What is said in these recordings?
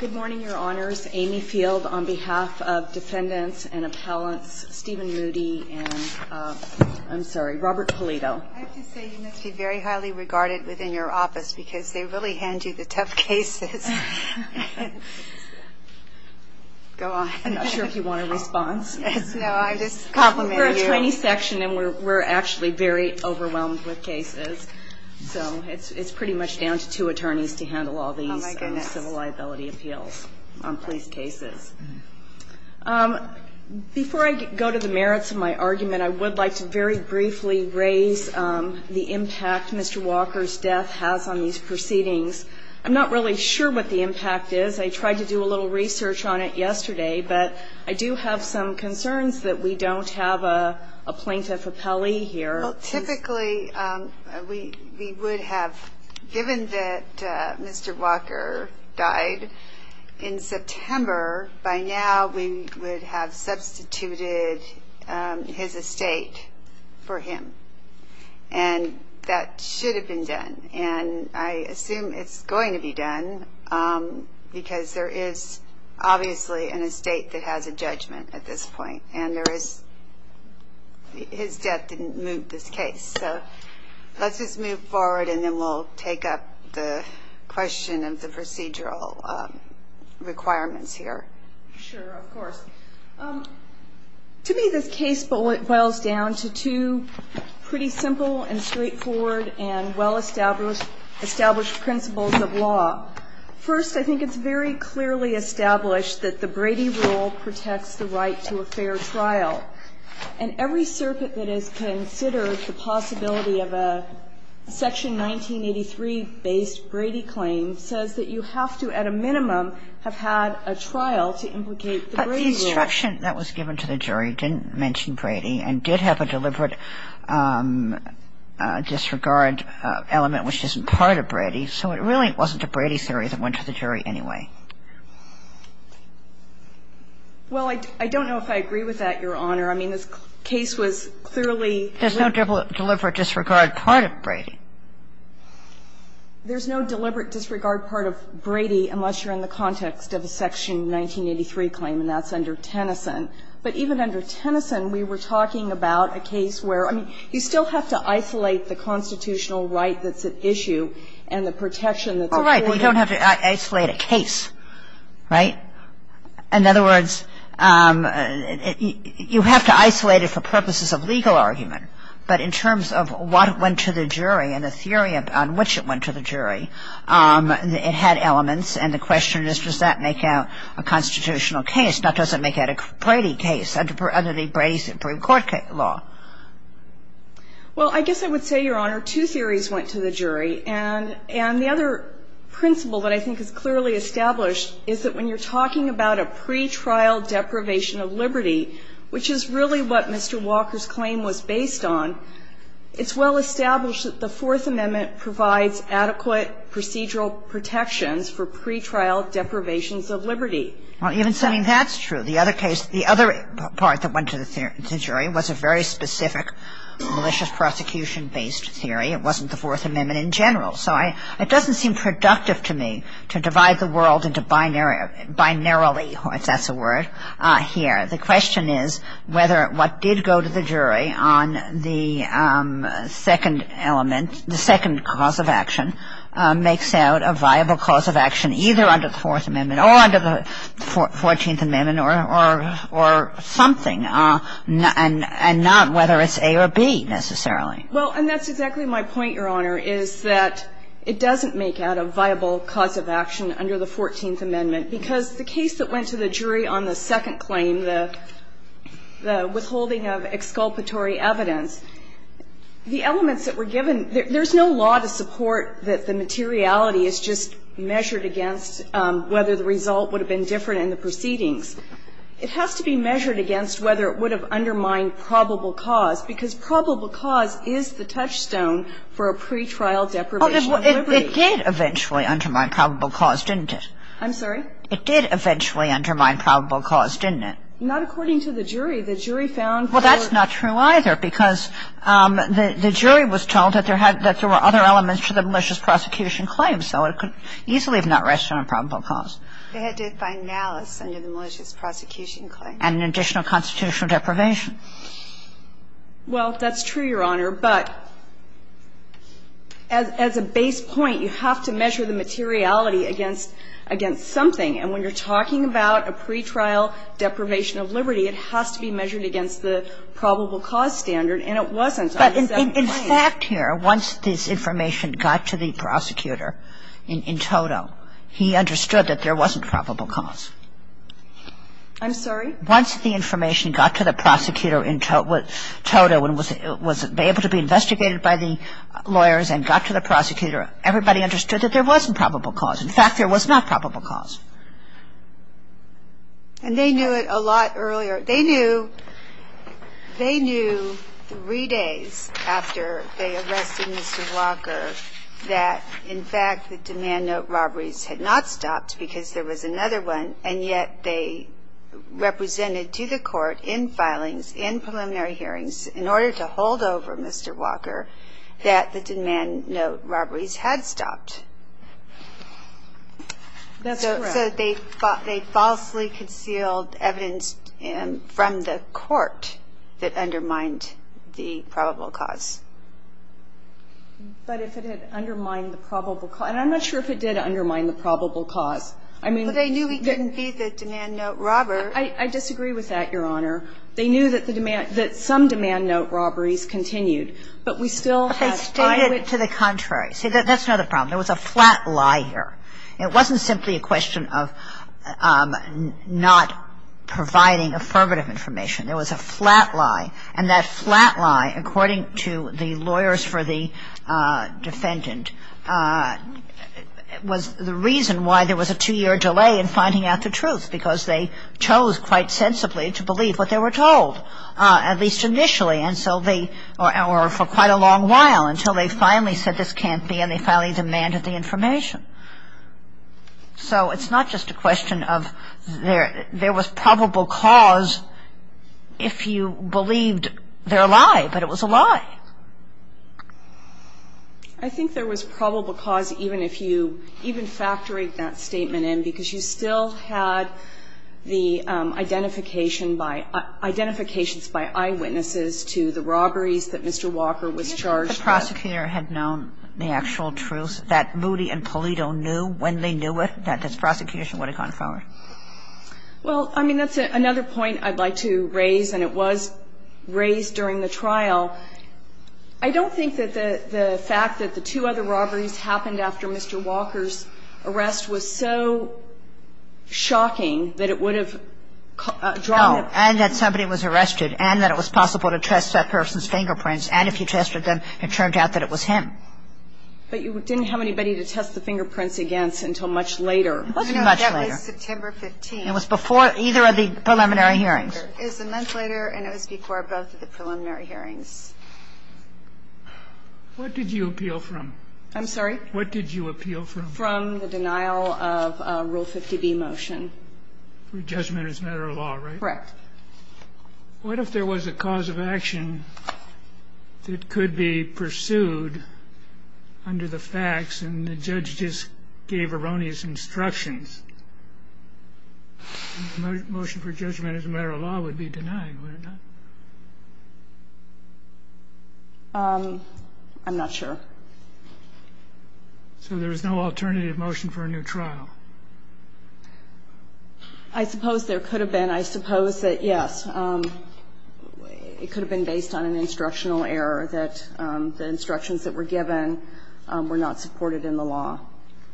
Good morning, your honors. Amy Field on behalf of defendants and appellants, Steven Moody and I'm sorry, Robert Polito. I have to say you must be very highly regarded within your office because they really hand you the tough cases. Go on. I'm not sure if you want a response. No, I just complimented you. We're a tiny section and we're actually very overwhelmed with cases. So it's pretty much down to two attorneys to handle all these civil liability appeals on police cases. Before I go to the merits of my argument, I would like to very briefly raise the impact Mr. Walker's death has on these proceedings. I'm not really sure what the impact is. I tried to do a little research on it yesterday, but I do have some concerns that we don't have a plaintiff appellee here. Typically, we would have given that Mr. Walker died in September. By now, we would have substituted his estate for him and that should have been done. And I assume it's going to be done because there is obviously an estate that has a judgment at this point. And his death didn't move this case. So let's just move forward and then we'll take up the question of the procedural requirements here. Sure, of course. To me, this case boils down to two pretty simple and straightforward and well-established principles of law. First, I think it's very clearly established that the Brady rule protects the right to a fair trial. And every circuit that has considered the possibility of a Section 1983-based Brady claim says that you have to, at a minimum, have had a trial to implicate the Brady rule. But the instruction that was given to the jury didn't mention Brady and did have a deliberate disregard element which isn't part of Brady. So it really wasn't a Brady theory that went to the jury anyway. Well, I don't know if I agree with that, Your Honor. I mean, this case was clearly to the point that there's no deliberate disregard part of Brady. There's no deliberate disregard part of Brady unless you're in the context of a Section 1983 claim, and that's under Tennyson. But even under Tennyson, we were talking about a case where, I mean, you still have to isolate the constitutional right that's at issue and the protection that's afforded. Well, right, but you don't have to isolate a case, right? In other words, you have to isolate it for purposes of legal argument. But in terms of what went to the jury and the theory on which it went to the jury, it had elements. And the question is, does that make out a constitutional case? Now, does it make out a Brady case under the Brady Supreme Court law? Well, I guess I would say, Your Honor, two theories went to the jury. And the other principle that I think is clearly established is that when you're talking about a pretrial deprivation of liberty, which is really what Mr. Walker's claim was based on, it's well established that the Fourth Amendment provides adequate procedural protections for pretrial deprivations of liberty. Well, even saying that's true. The other case, the other part that went to the jury was a very specific malicious prosecution-based theory. It wasn't the Fourth Amendment in general. So it doesn't seem productive to me to divide the world into binary, binarily, if that's a word, here. The question is whether what did go to the jury on the second element, either under the Fourth Amendment or under the Fourteenth Amendment or something, and not whether it's A or B, necessarily. Well, and that's exactly my point, Your Honor, is that it doesn't make out a viable cause of action under the Fourteenth Amendment, because the case that went to the jury on the second claim, the withholding of exculpatory evidence, the elements that were given, there's no law to support that the materiality is just measured against whether the result would have been different in the proceedings. It has to be measured against whether it would have undermined probable cause, because probable cause is the touchstone for a pretrial deprivation of liberty. Kagan. Well, it did eventually undermine probable cause, didn't it? I'm sorry? It did eventually undermine probable cause, didn't it? Not according to the jury. The jury found for the court. Well, that's not true either, because the jury was told that there were other elements to the malicious prosecution claim, so it could easily have not rested on probable cause. They had to find malice under the malicious prosecution claim. And an additional constitutional deprivation. Well, that's true, Your Honor. But as a base point, you have to measure the materiality against something. And when you're talking about a pretrial deprivation of liberty, it has to be measured against the probable cause standard, and it wasn't on the second claim. But in fact here, once this information got to the prosecutor in toto, he understood that there wasn't probable cause. I'm sorry? Once the information got to the prosecutor in toto and was able to be investigated by the lawyers and got to the prosecutor, everybody understood that there wasn't probable cause. In fact, there was not probable cause. And they knew it a lot earlier. They knew three days after they arrested Mr. Walker that, in fact, the demand note robberies had not stopped because there was another one, and yet they represented to the court in filings, in preliminary hearings, in order to hold over Mr. Walker, that the demand note robberies had stopped. That's correct. So they thought they falsely concealed evidence from the court that undermined the probable cause. But if it had undermined the probable cause. And I'm not sure if it did undermine the probable cause. I mean, it didn't be the demand note robber. I disagree with that, Your Honor. They knew that the demand, that some demand note robberies continued, but we still have to find it. But they stated it to the contrary. See, that's not the problem. There was a flat lie here. It wasn't simply a question of not providing affirmative information. There was a flat lie. And that flat lie, according to the lawyers for the defendant, was the reason why there was a two-year delay in finding out the truth, because they chose quite sensibly to believe what they were told, at least initially, and so they, or for quite a long So it's not just a question of there was probable cause if you believed their lie, but it was a lie. I think there was probable cause even if you, even factoring that statement in, because you still had the identification by, identifications by eyewitnesses to the robberies that Mr. Walker was charged with. So I don't think that the prosecutor had known the actual truth, that Moody and Polito knew when they knew it that this prosecution would have gone forward. Well, I mean, that's another point I'd like to raise, and it was raised during the trial. I don't think that the fact that the two other robberies happened after Mr. Walker's arrest was so shocking that it would have drawn them. No, and that somebody was arrested, and that it was possible to test that person's fingerprints, and if you tested them, it turned out that it was him. But you didn't have anybody to test the fingerprints against until much later. It wasn't much later. No, that was September 15th. It was before either of the preliminary hearings. It was a month later, and it was before both of the preliminary hearings. What did you appeal from? I'm sorry? What did you appeal from? From the denial of Rule 50b motion. For judgment as a matter of law, right? Correct. What if there was a cause of action that could be pursued under the facts, and the judge just gave erroneous instructions? Motion for judgment as a matter of law would be denied, would it not? I'm not sure. So there was no alternative motion for a new trial? I suppose there could have been. I suppose that, yes, it could have been based on an instructional error, that the instructions that were given were not supported in the law.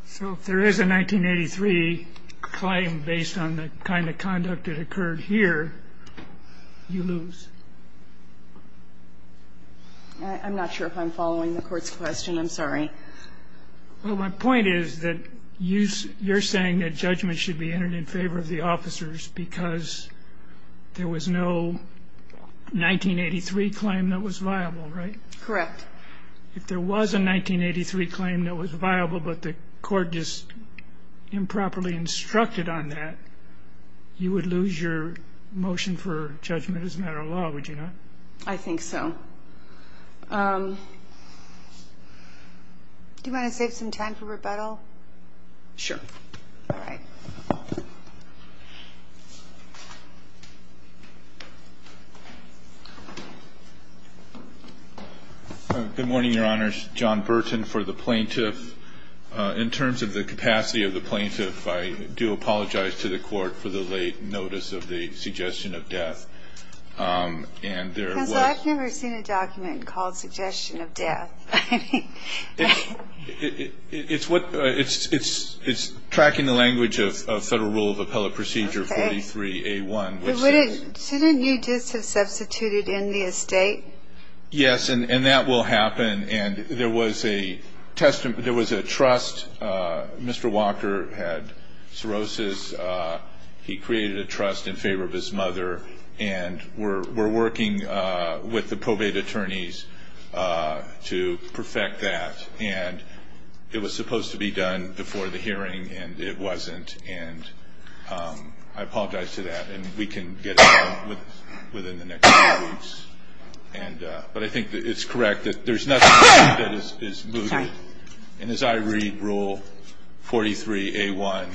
So if there is a 1983 claim based on the kind of conduct that occurred here, you lose? I'm not sure if I'm following the Court's question. I'm sorry. Well, my point is that you're saying that judgment should be entered in favor of the officers because there was no 1983 claim that was viable, right? Correct. If there was a 1983 claim that was viable, but the Court just improperly instructed on that, you would lose your motion for judgment as a matter of law, would you not? I think so. Do you want to save some time for rebuttal? Sure. All right. Good morning, Your Honors. John Burton for the plaintiff. In terms of the capacity of the plaintiff, I do apologize to the Court for the late notice of the suggestion of death. Counsel, I've never seen a document called suggestion of death. It's tracking the language of Federal Rule of Appellate Procedure 43A1. Shouldn't you just have substituted in the estate? Yes, and that will happen. And there was a trust. Mr. Walker had cirrhosis. He created a trust in favor of his mother, and we're working with the probate attorneys to perfect that. And it was supposed to be done before the hearing, and it wasn't. And I apologize to that, and we can get it done within the next few weeks. But I think it's correct that there's nothing that is mooted. And as I read Rule 43A1,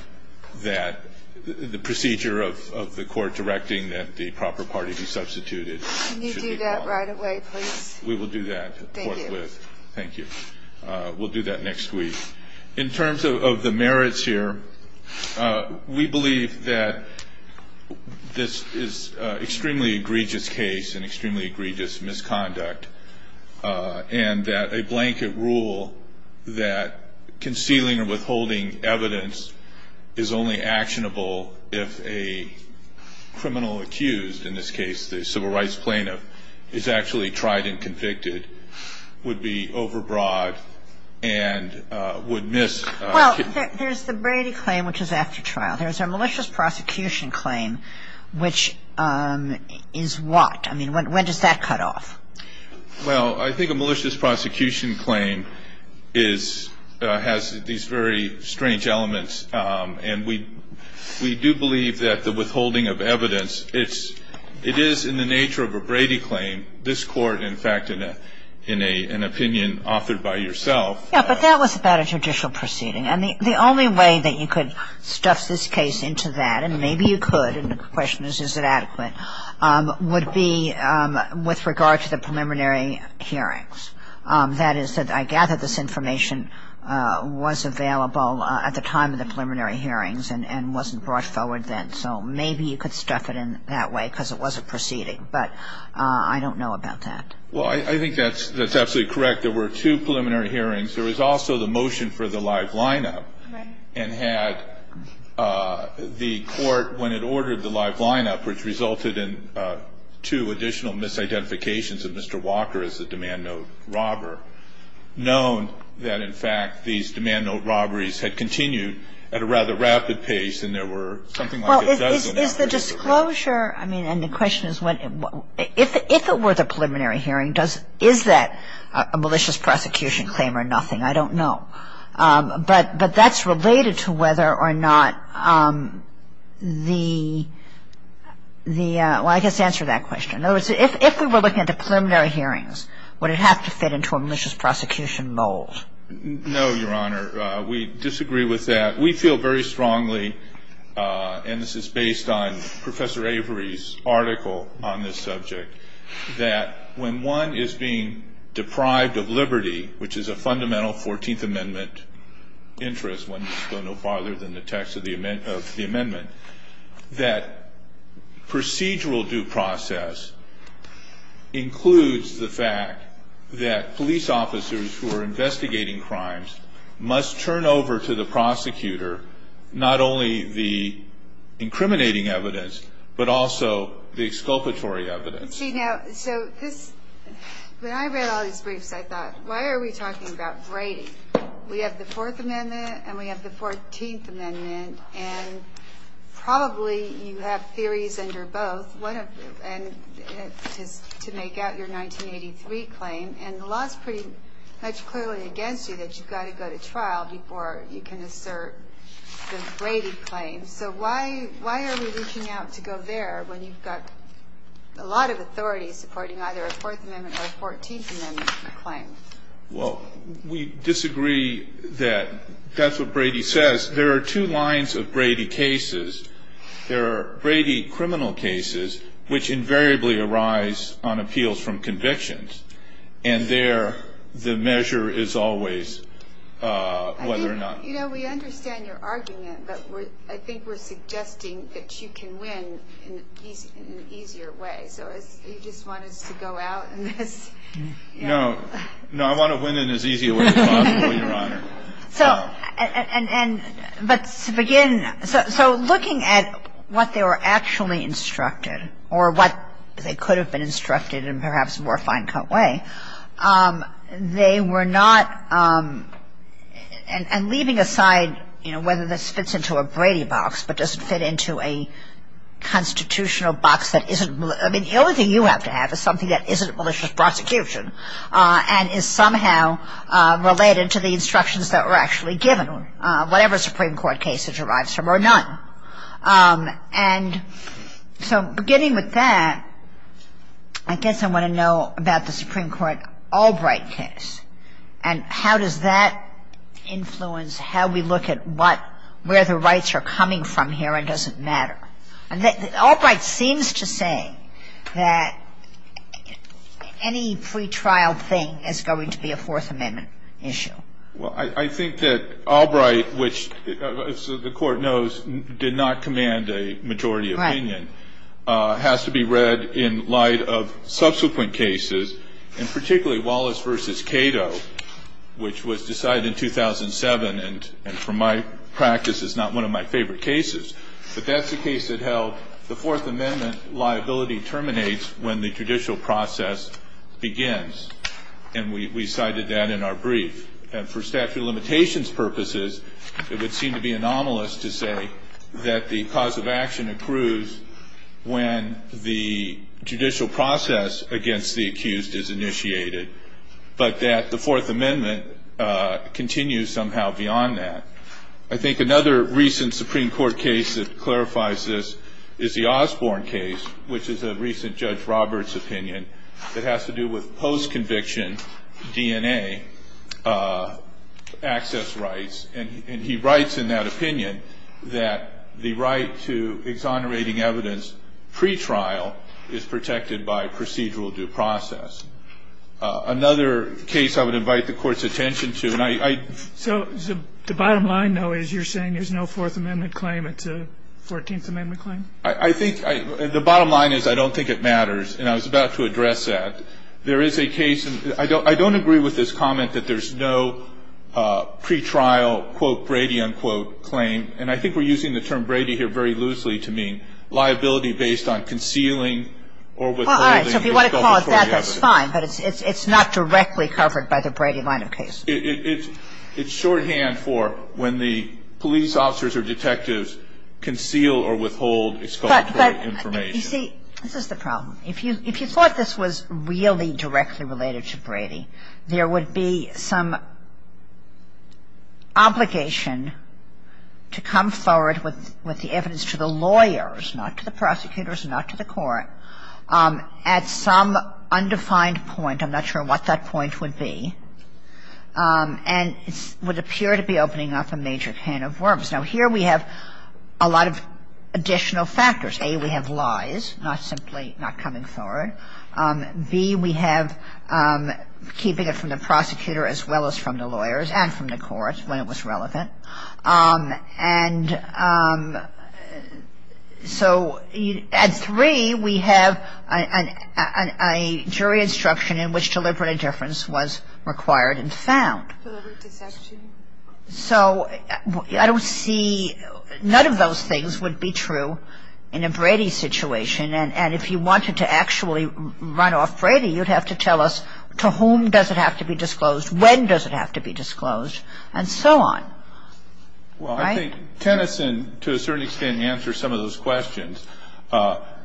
the procedure of the court directing that the proper party be substituted. Can you do that right away, please? We will do that, of course. Thank you. We'll do that next week. In terms of the merits here, we believe that this is an extremely egregious case and extremely egregious misconduct, and that a blanket rule that concealing or withholding evidence is only actionable if a criminal accused, in this case the civil rights plaintiff, is actually tried and convicted would be overbroad and would miss. Well, there's the Brady claim, which is after trial. There's a malicious prosecution claim, which is what? I mean, when does that cut off? Well, I think a malicious prosecution claim has these very strange elements. And we do believe that the withholding of evidence, it is in the nature of a Brady claim, this court, in fact, in an opinion offered by yourself. Yeah, but that was about a judicial proceeding. And the only way that you could stuff this case into that, and maybe you could, and the question is, is it adequate, would be with regard to the preliminary hearings. That is, I gather this information was available at the time of the preliminary hearings and wasn't brought forward then. So maybe you could stuff it in that way because it was a proceeding. But I don't know about that. Well, I think that's absolutely correct. There were two preliminary hearings. There was also the motion for the live lineup. Right. And had the court, when it ordered the live lineup, which resulted in two additional misidentifications of Mr. Walker as a demand note robber, known that, in fact, these demand note robberies had continued at a rather rapid pace and there were something like a dozen or so. Well, is the disclosure, I mean, and the question is, if it were the preliminary hearing, is that a malicious prosecution claim or nothing? I don't know. But that's related to whether or not the, well, I guess to answer that question. In other words, if we were looking at the preliminary hearings, would it have to fit into a malicious prosecution mold? No, Your Honor. We disagree with that. We feel very strongly, and this is based on Professor Avery's article on this subject, that when one is being deprived of liberty, which is a fundamental 14th Amendment interest, one must go no farther than the text of the amendment, that procedural due process includes the fact that police officers who are investigating crimes must turn over to the prosecutor not only the incriminating evidence but also the exculpatory evidence. See, now, so this, when I read all these briefs, I thought, why are we talking about Brady? We have the Fourth Amendment and we have the 14th Amendment, and probably you have theories under both to make out your 1983 claim, and the law is pretty much clearly against you that you've got to go to trial before you can assert the Brady claim. So why are we reaching out to go there when you've got a lot of authorities supporting either a Fourth Amendment or a 14th Amendment claim? Well, we disagree that that's what Brady says. There are two lines of Brady cases. There are Brady criminal cases, which invariably arise on appeals from convictions, and there the measure is always whether or not. You know, we understand your argument, but I think we're suggesting that you can win in an easier way. So you just want us to go out in this? No. No, I want to win in as easy a way as possible, Your Honor. So, but to begin, so looking at what they were actually instructed or what they could have been instructed in perhaps a more fine-cut way, they were not, and leaving aside, you know, whether this fits into a Brady box but doesn't fit into a constitutional box that isn't, I mean the only thing you have to have is something that isn't malicious prosecution and is somehow related to the instructions that were actually given, whatever Supreme Court case it derives from or none. And so beginning with that, I guess I want to know about the Supreme Court Albright case and how does that influence how we look at where the rights are coming from here and does it matter? Albright seems to say that any pretrial thing is going to be a Fourth Amendment issue. Well, I think that Albright, which the Court knows did not command a majority opinion, has to be read in light of subsequent cases and particularly Wallace v. Cato, which was decided in 2007 and from my practice is not one of my favorite cases. But that's the case that held the Fourth Amendment liability terminates when the judicial process begins. And we cited that in our brief. And for statute of limitations purposes, it would seem to be anomalous to say that the cause of action accrues when the judicial process against the accused is initiated, but that the Fourth Amendment continues somehow beyond that. I think another recent Supreme Court case that clarifies this is the Osborne case, which is a recent Judge Roberts opinion that has to do with post-conviction DNA access rights. And he writes in that opinion that the right to exonerating evidence pretrial is protected by procedural due process. Another case I would invite the Court's attention to. So the bottom line, though, is you're saying there's no Fourth Amendment claim, it's a Fourteenth Amendment claim? I think the bottom line is I don't think it matters. And I was about to address that. There is a case, and I don't agree with this comment that there's no pretrial quote Brady unquote claim. And I think we're using the term Brady here very loosely to mean liability based on concealing or withholding. All right. So if you want to call it that, that's fine. But it's not directly covered by the Brady line of case. It's shorthand for when the police officers or detectives conceal or withhold exculpatory information. But you see, this is the problem. If you thought this was really directly related to Brady, there would be some obligation to come forward with the evidence to the lawyers, not to the prosecutors, not to the court, at some undefined point. I'm not sure what that point would be. And it would appear to be opening up a major can of worms. Now, here we have a lot of additional factors. A, we have lies, not simply not coming forward. B, we have keeping it from the prosecutor as well as from the lawyers and from the courts when it was relevant. And so at three, we have a jury instruction in which deliberate indifference was required and found. So I don't see – none of those things would be true in a Brady situation. And if you wanted to actually run off Brady, you'd have to tell us to whom does it have to be disclosed, when does it have to be disclosed, and so on. Well, I think Tennyson, to a certain extent, answers some of those questions.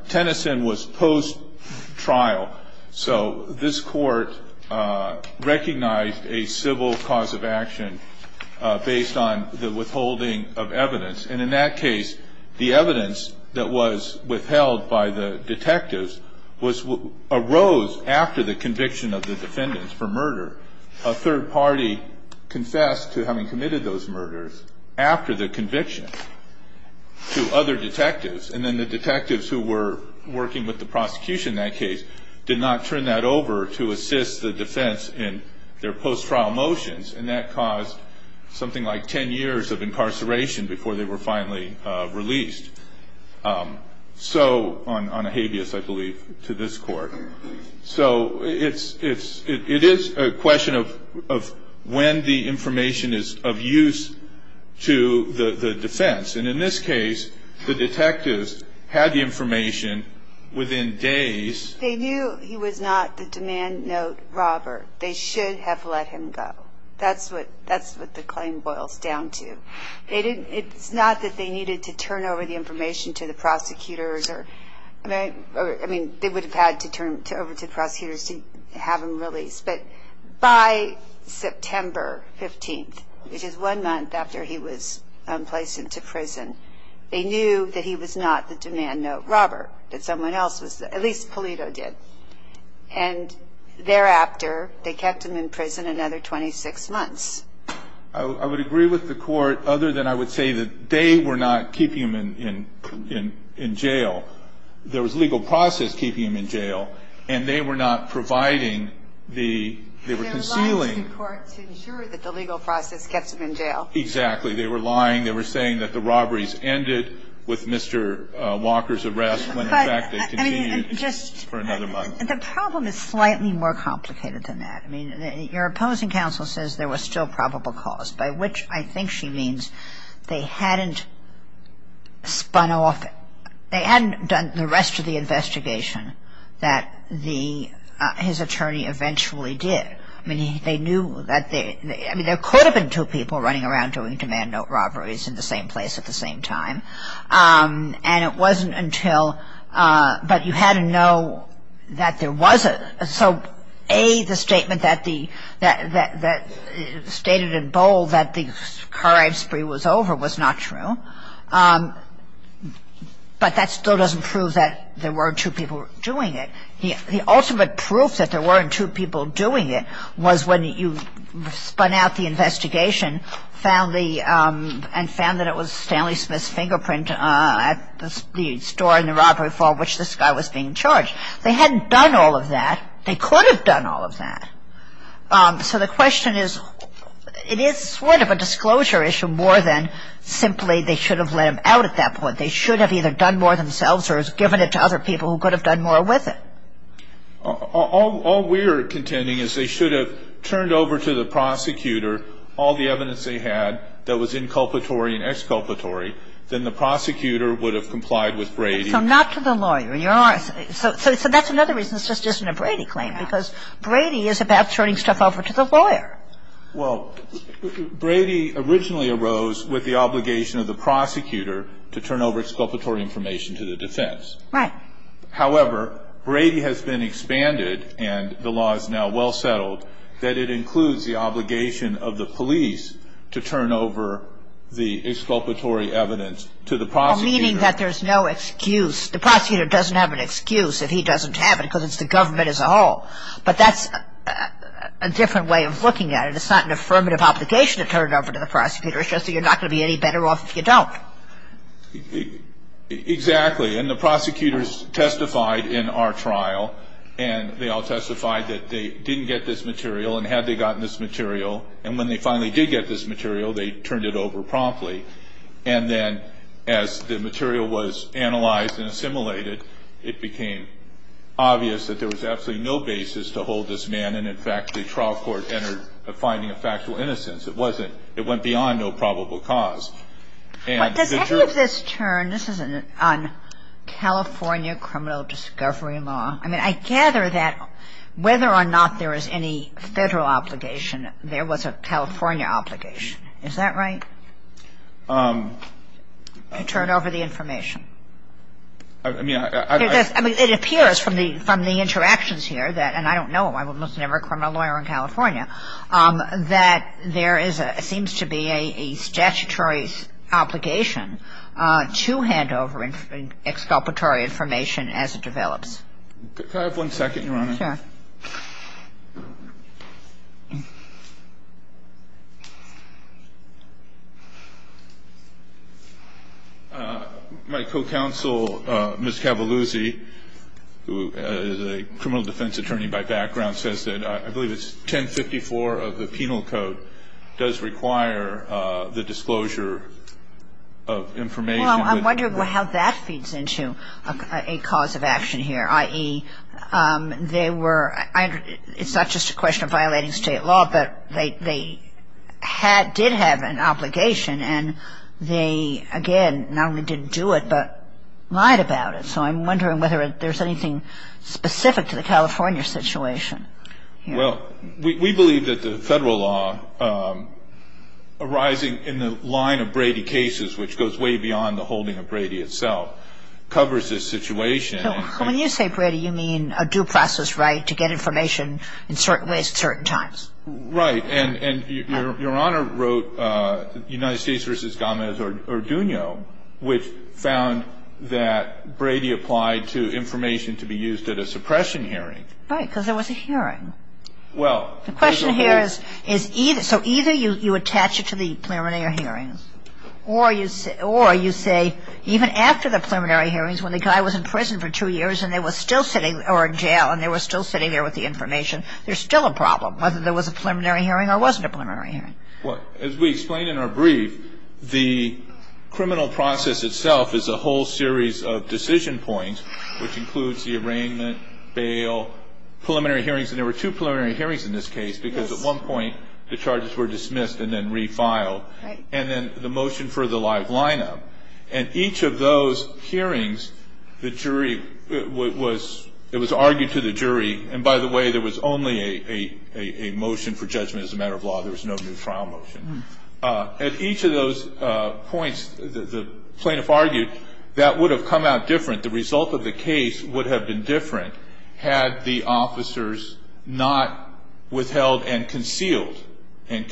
Tennyson was post-trial. So this court recognized a civil cause of action based on the withholding of evidence. And in that case, the evidence that was withheld by the detectives arose after the conviction of the defendants for murder. A third party confessed to having committed those murders after the conviction to other detectives. And then the detectives who were working with the prosecution in that case did not turn that over to assist the defense in their post-trial motions, and that caused something like 10 years of incarceration before they were finally released. So – on a habeas, I believe, to this court. So it is a question of when the information is of use to the defense. And in this case, the detectives had the information within days. They knew he was not the demand note robber. They should have let him go. That's what the claim boils down to. It's not that they needed to turn over the information to the prosecutors or – over to prosecutors to have him released. But by September 15th, which is one month after he was placed into prison, they knew that he was not the demand note robber, that someone else was. At least Pulido did. And thereafter, they kept him in prison another 26 months. I would agree with the court other than I would say that they were not keeping him in jail. There was legal process keeping him in jail, and they were not providing the – they were concealing. They were lying to the court to ensure that the legal process gets him in jail. Exactly. They were lying. They were saying that the robberies ended with Mr. Walker's arrest, when, in fact, they continued for another month. The problem is slightly more complicated than that. I mean, your opposing counsel says there was still probable cause, by which I think she means they hadn't spun off – they hadn't done the rest of the investigation that the – his attorney eventually did. I mean, they knew that they – I mean, there could have been two people running around doing demand note robberies in the same place at the same time. And it wasn't until – but you had to know that there was a – that stated in bold that the car rape spree was over was not true. But that still doesn't prove that there weren't two people doing it. The ultimate proof that there weren't two people doing it was when you spun out the investigation, found the – and found that it was Stanley Smith's fingerprint at the store in the robbery vault which this guy was being charged. They hadn't done all of that. They could have done all of that. So the question is it is sort of a disclosure issue more than simply they should have let him out at that point. They should have either done more themselves or given it to other people who could have done more with it. All we're contending is they should have turned over to the prosecutor all the evidence they had that was inculpatory and exculpatory. So not to the lawyer. So that's another reason it's just isn't a Brady claim because Brady is about turning stuff over to the lawyer. Well, Brady originally arose with the obligation of the prosecutor to turn over exculpatory information to the defense. Right. However, Brady has been expanded and the law is now well settled that it includes the obligation of the police to turn over the exculpatory evidence to the prosecutor. Well, meaning that there's no excuse. The prosecutor doesn't have an excuse if he doesn't have it because it's the government as a whole. But that's a different way of looking at it. It's not an affirmative obligation to turn it over to the prosecutor. It's just that you're not going to be any better off if you don't. Exactly. And the prosecutors testified in our trial and they all testified that they didn't get this material and had they gotten this material. And when they finally did get this material, they turned it over promptly. And then as the material was analyzed and assimilated, it became obvious that there was absolutely no basis to hold this man. And in fact, the trial court entered a finding of factual innocence. It wasn't. It went beyond no probable cause. But the second of this term, this is on California criminal discovery law. I mean, I gather that whether or not there is any federal obligation, there was a California obligation. Is that right? To turn over the information. I mean, I don't know. It appears from the interactions here that, and I don't know, I was never a criminal lawyer in California, that there seems to be a statutory obligation to hand over exculpatory information as it develops. Could I have one second, Your Honor? Sure. My co-counsel, Ms. Cavalluzzi, who is a criminal defense attorney by background, says that I believe it's 1054 of the Penal Code does require the disclosure of information. Well, I'm wondering how that feeds into a cause of action here, i.e. they were, you know, it's not just a question of violating state law, but they did have an obligation, and they, again, not only didn't do it, but lied about it. So I'm wondering whether there's anything specific to the California situation. Well, we believe that the federal law arising in the line of Brady cases, which goes way beyond the holding of Brady itself, covers this situation. So when you say Brady, you mean a due process right to get information in certain ways at certain times? Right. And Your Honor wrote United States v. Gomez-Urduño, which found that Brady applied to information to be used at a suppression hearing. Right, because there was a hearing. Well, there's a hold. The question here is, so either you attach it to the preliminary hearing, or you say even after the preliminary hearings, when the guy was in prison for two years or in jail, and they were still sitting there with the information, there's still a problem, whether there was a preliminary hearing or wasn't a preliminary hearing. Well, as we explained in our brief, the criminal process itself is a whole series of decision points, which includes the arraignment, bail, preliminary hearings. And there were two preliminary hearings in this case, because at one point the charges were dismissed and then refiled. Right. And then the motion for the live lineup. At each of those hearings, the jury was argued to the jury. And, by the way, there was only a motion for judgment as a matter of law. There was no new trial motion. At each of those points, the plaintiff argued that would have come out different. The result of the case would have been different had the officers not withheld and concealed. And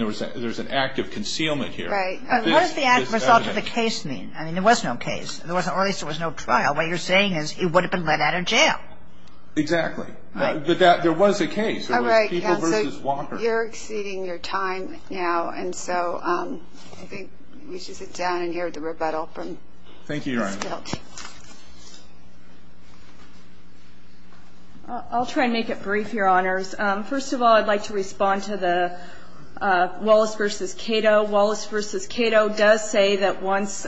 there's an act of concealment here. Right. What does the act result of the case mean? I mean, there was no case. Or at least there was no trial. What you're saying is it would have been let out of jail. Exactly. But there was a case. There was People v. Walker. You're exceeding your time now. And so I think we should sit down and hear the rebuttal from this Court. Thank you, Your Honor. I'll try and make it brief, Your Honors. First of all, I'd like to respond to the Wallace v. Cato. Wallace v. Cato does say that once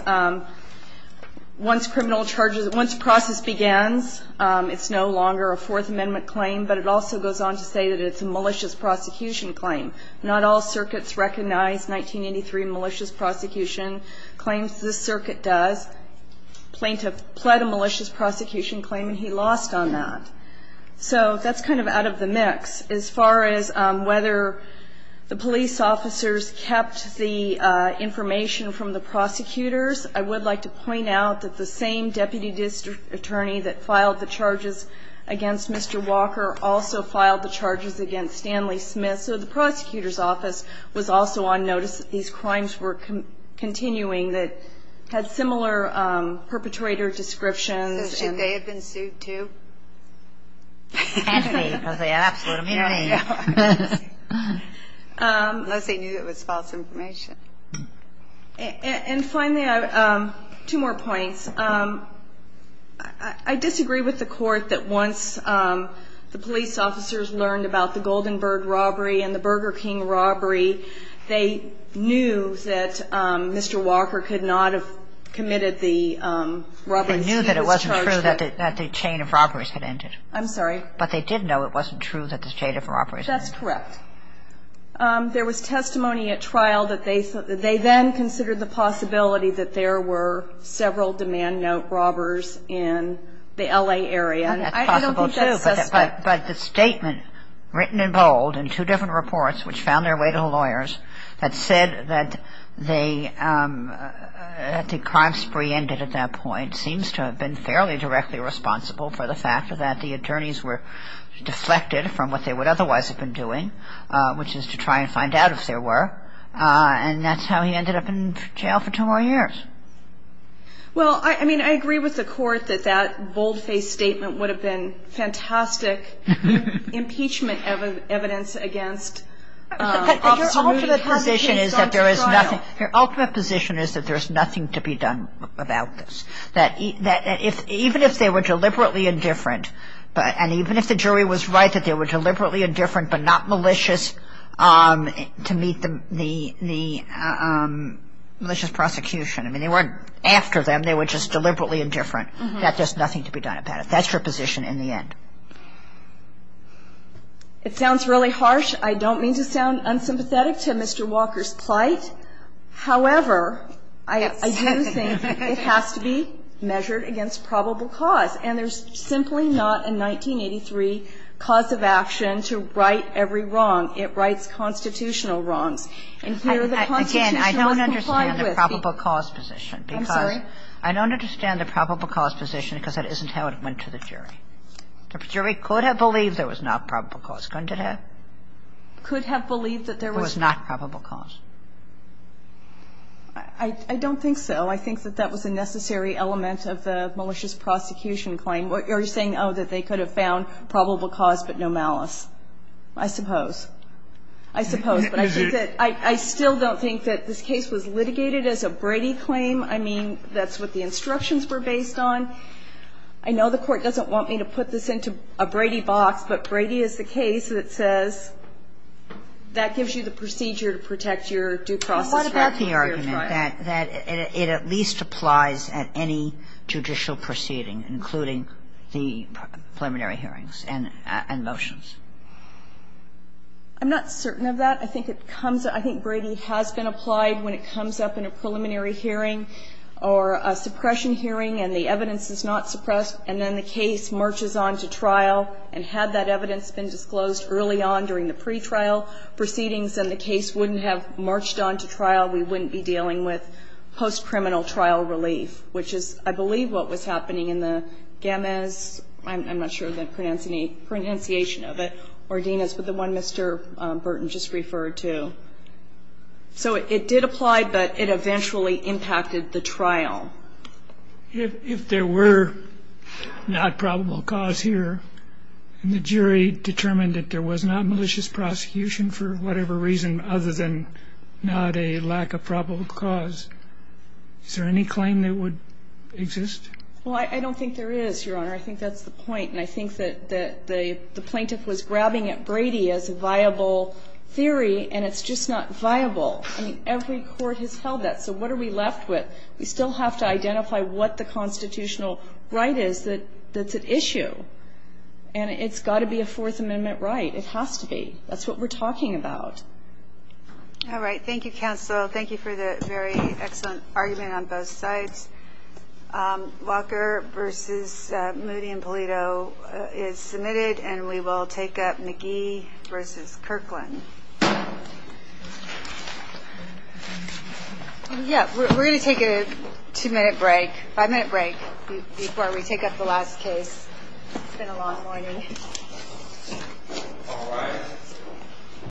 criminal charges, once the process begins, it's no longer a Fourth Amendment claim. But it also goes on to say that it's a malicious prosecution claim. Not all circuits recognize 1983 malicious prosecution claims. This circuit does. The plaintiff pled a malicious prosecution claim, and he lost on that. So that's kind of out of the mix. As far as whether the police officers kept the information from the prosecutors, I would like to point out that the same deputy district attorney that filed the charges against Mr. Walker also filed the charges against Stanley Smith. So the prosecutor's office was also on notice that these crimes were continuing, that had similar perpetrator descriptions. So should they have been sued, too? They had to be, because they absolutely had to be. Unless they knew it was false information. And finally, two more points. I disagree with the Court that once the police officers learned about the Goldenberg robbery and the Burger King robbery, they knew that Mr. Walker could not have committed the robberies he was charged with. They knew that it wasn't true that the chain of robberies had ended. I'm sorry. But they did know it wasn't true that the chain of robberies had ended. That's correct. There was testimony at trial that they then considered the possibility that there were several demand note robbers in the L.A. area. And I don't think that's suspect. But the statement written in bold in two different reports which found their way to the lawyers that said that the crime spree ended at that point seems to have been fairly directly responsible for the fact that the attorneys were deflected from what they would otherwise have been doing, which is to try and find out if there were. And that's how he ended up in jail for two more years. Well, I mean, I agree with the Court that that bold-faced statement would have been fantastic impeachment evidence against Officer Moody. Your ultimate position is that there is nothing to be done about this. That even if they were deliberately indifferent and even if the jury was right that they were deliberately indifferent but not malicious to meet the malicious prosecution. I mean, they weren't after them. They were just deliberately indifferent. That there's nothing to be done about it. That's your position in the end. It sounds really harsh. I don't mean to sound unsympathetic to Mr. Walker's plight. However, I do think it has to be measured against probable cause. And there's simply not a 1983 cause of action to right every wrong. It rights constitutional wrongs. And here the Constitution must comply with the ---- Kagan, I don't understand the probable cause position. I'm sorry? I don't understand the probable cause position because that isn't how it went to the jury. The jury could have believed there was not probable cause, couldn't it have? Could have believed that there was not probable cause. I don't think so. I think that that was a necessary element of the malicious prosecution claim. You're saying, oh, that they could have found probable cause but no malice. I suppose. I suppose. But I think that ---- I still don't think that this case was litigated as a Brady claim. I mean, that's what the instructions were based on. I know the Court doesn't want me to put this into a Brady box, but Brady is the case that says that gives you the procedure to protect your due process record. Kagan. But what about the argument that it at least applies at any judicial proceeding, including the preliminary hearings and motions? I'm not certain of that. I think it comes up. I think Brady has been applied when it comes up in a preliminary hearing or a suppression hearing and the evidence is not suppressed, and then the case marches on to trial. And had that evidence been disclosed early on during the pretrial proceedings and the case wouldn't have marched on to trial, we wouldn't be dealing with post-criminal trial relief, which is, I believe, what was happening in the Gammes. I'm not sure of the pronunciation of it, or Dinas, but the one Mr. Burton just referred to. If there were not probable cause here and the jury determined that there was not malicious prosecution for whatever reason other than not a lack of probable cause, is there any claim that would exist? Well, I don't think there is, Your Honor. I think that's the point. And I think that the plaintiff was grabbing at Brady as a viable theory, and it's just not viable. I mean, every court has held that. So what are we left with? We still have to identify what the constitutional right is that's at issue. And it's got to be a Fourth Amendment right. It has to be. That's what we're talking about. All right. Thank you, counsel. Thank you for the very excellent argument on both sides. Walker v. Moody and Polito is submitted, and we will take up McGee v. Kirkland. Yeah, we're going to take a two-minute break, five-minute break before we take up the last case. It's been a long morning. All right.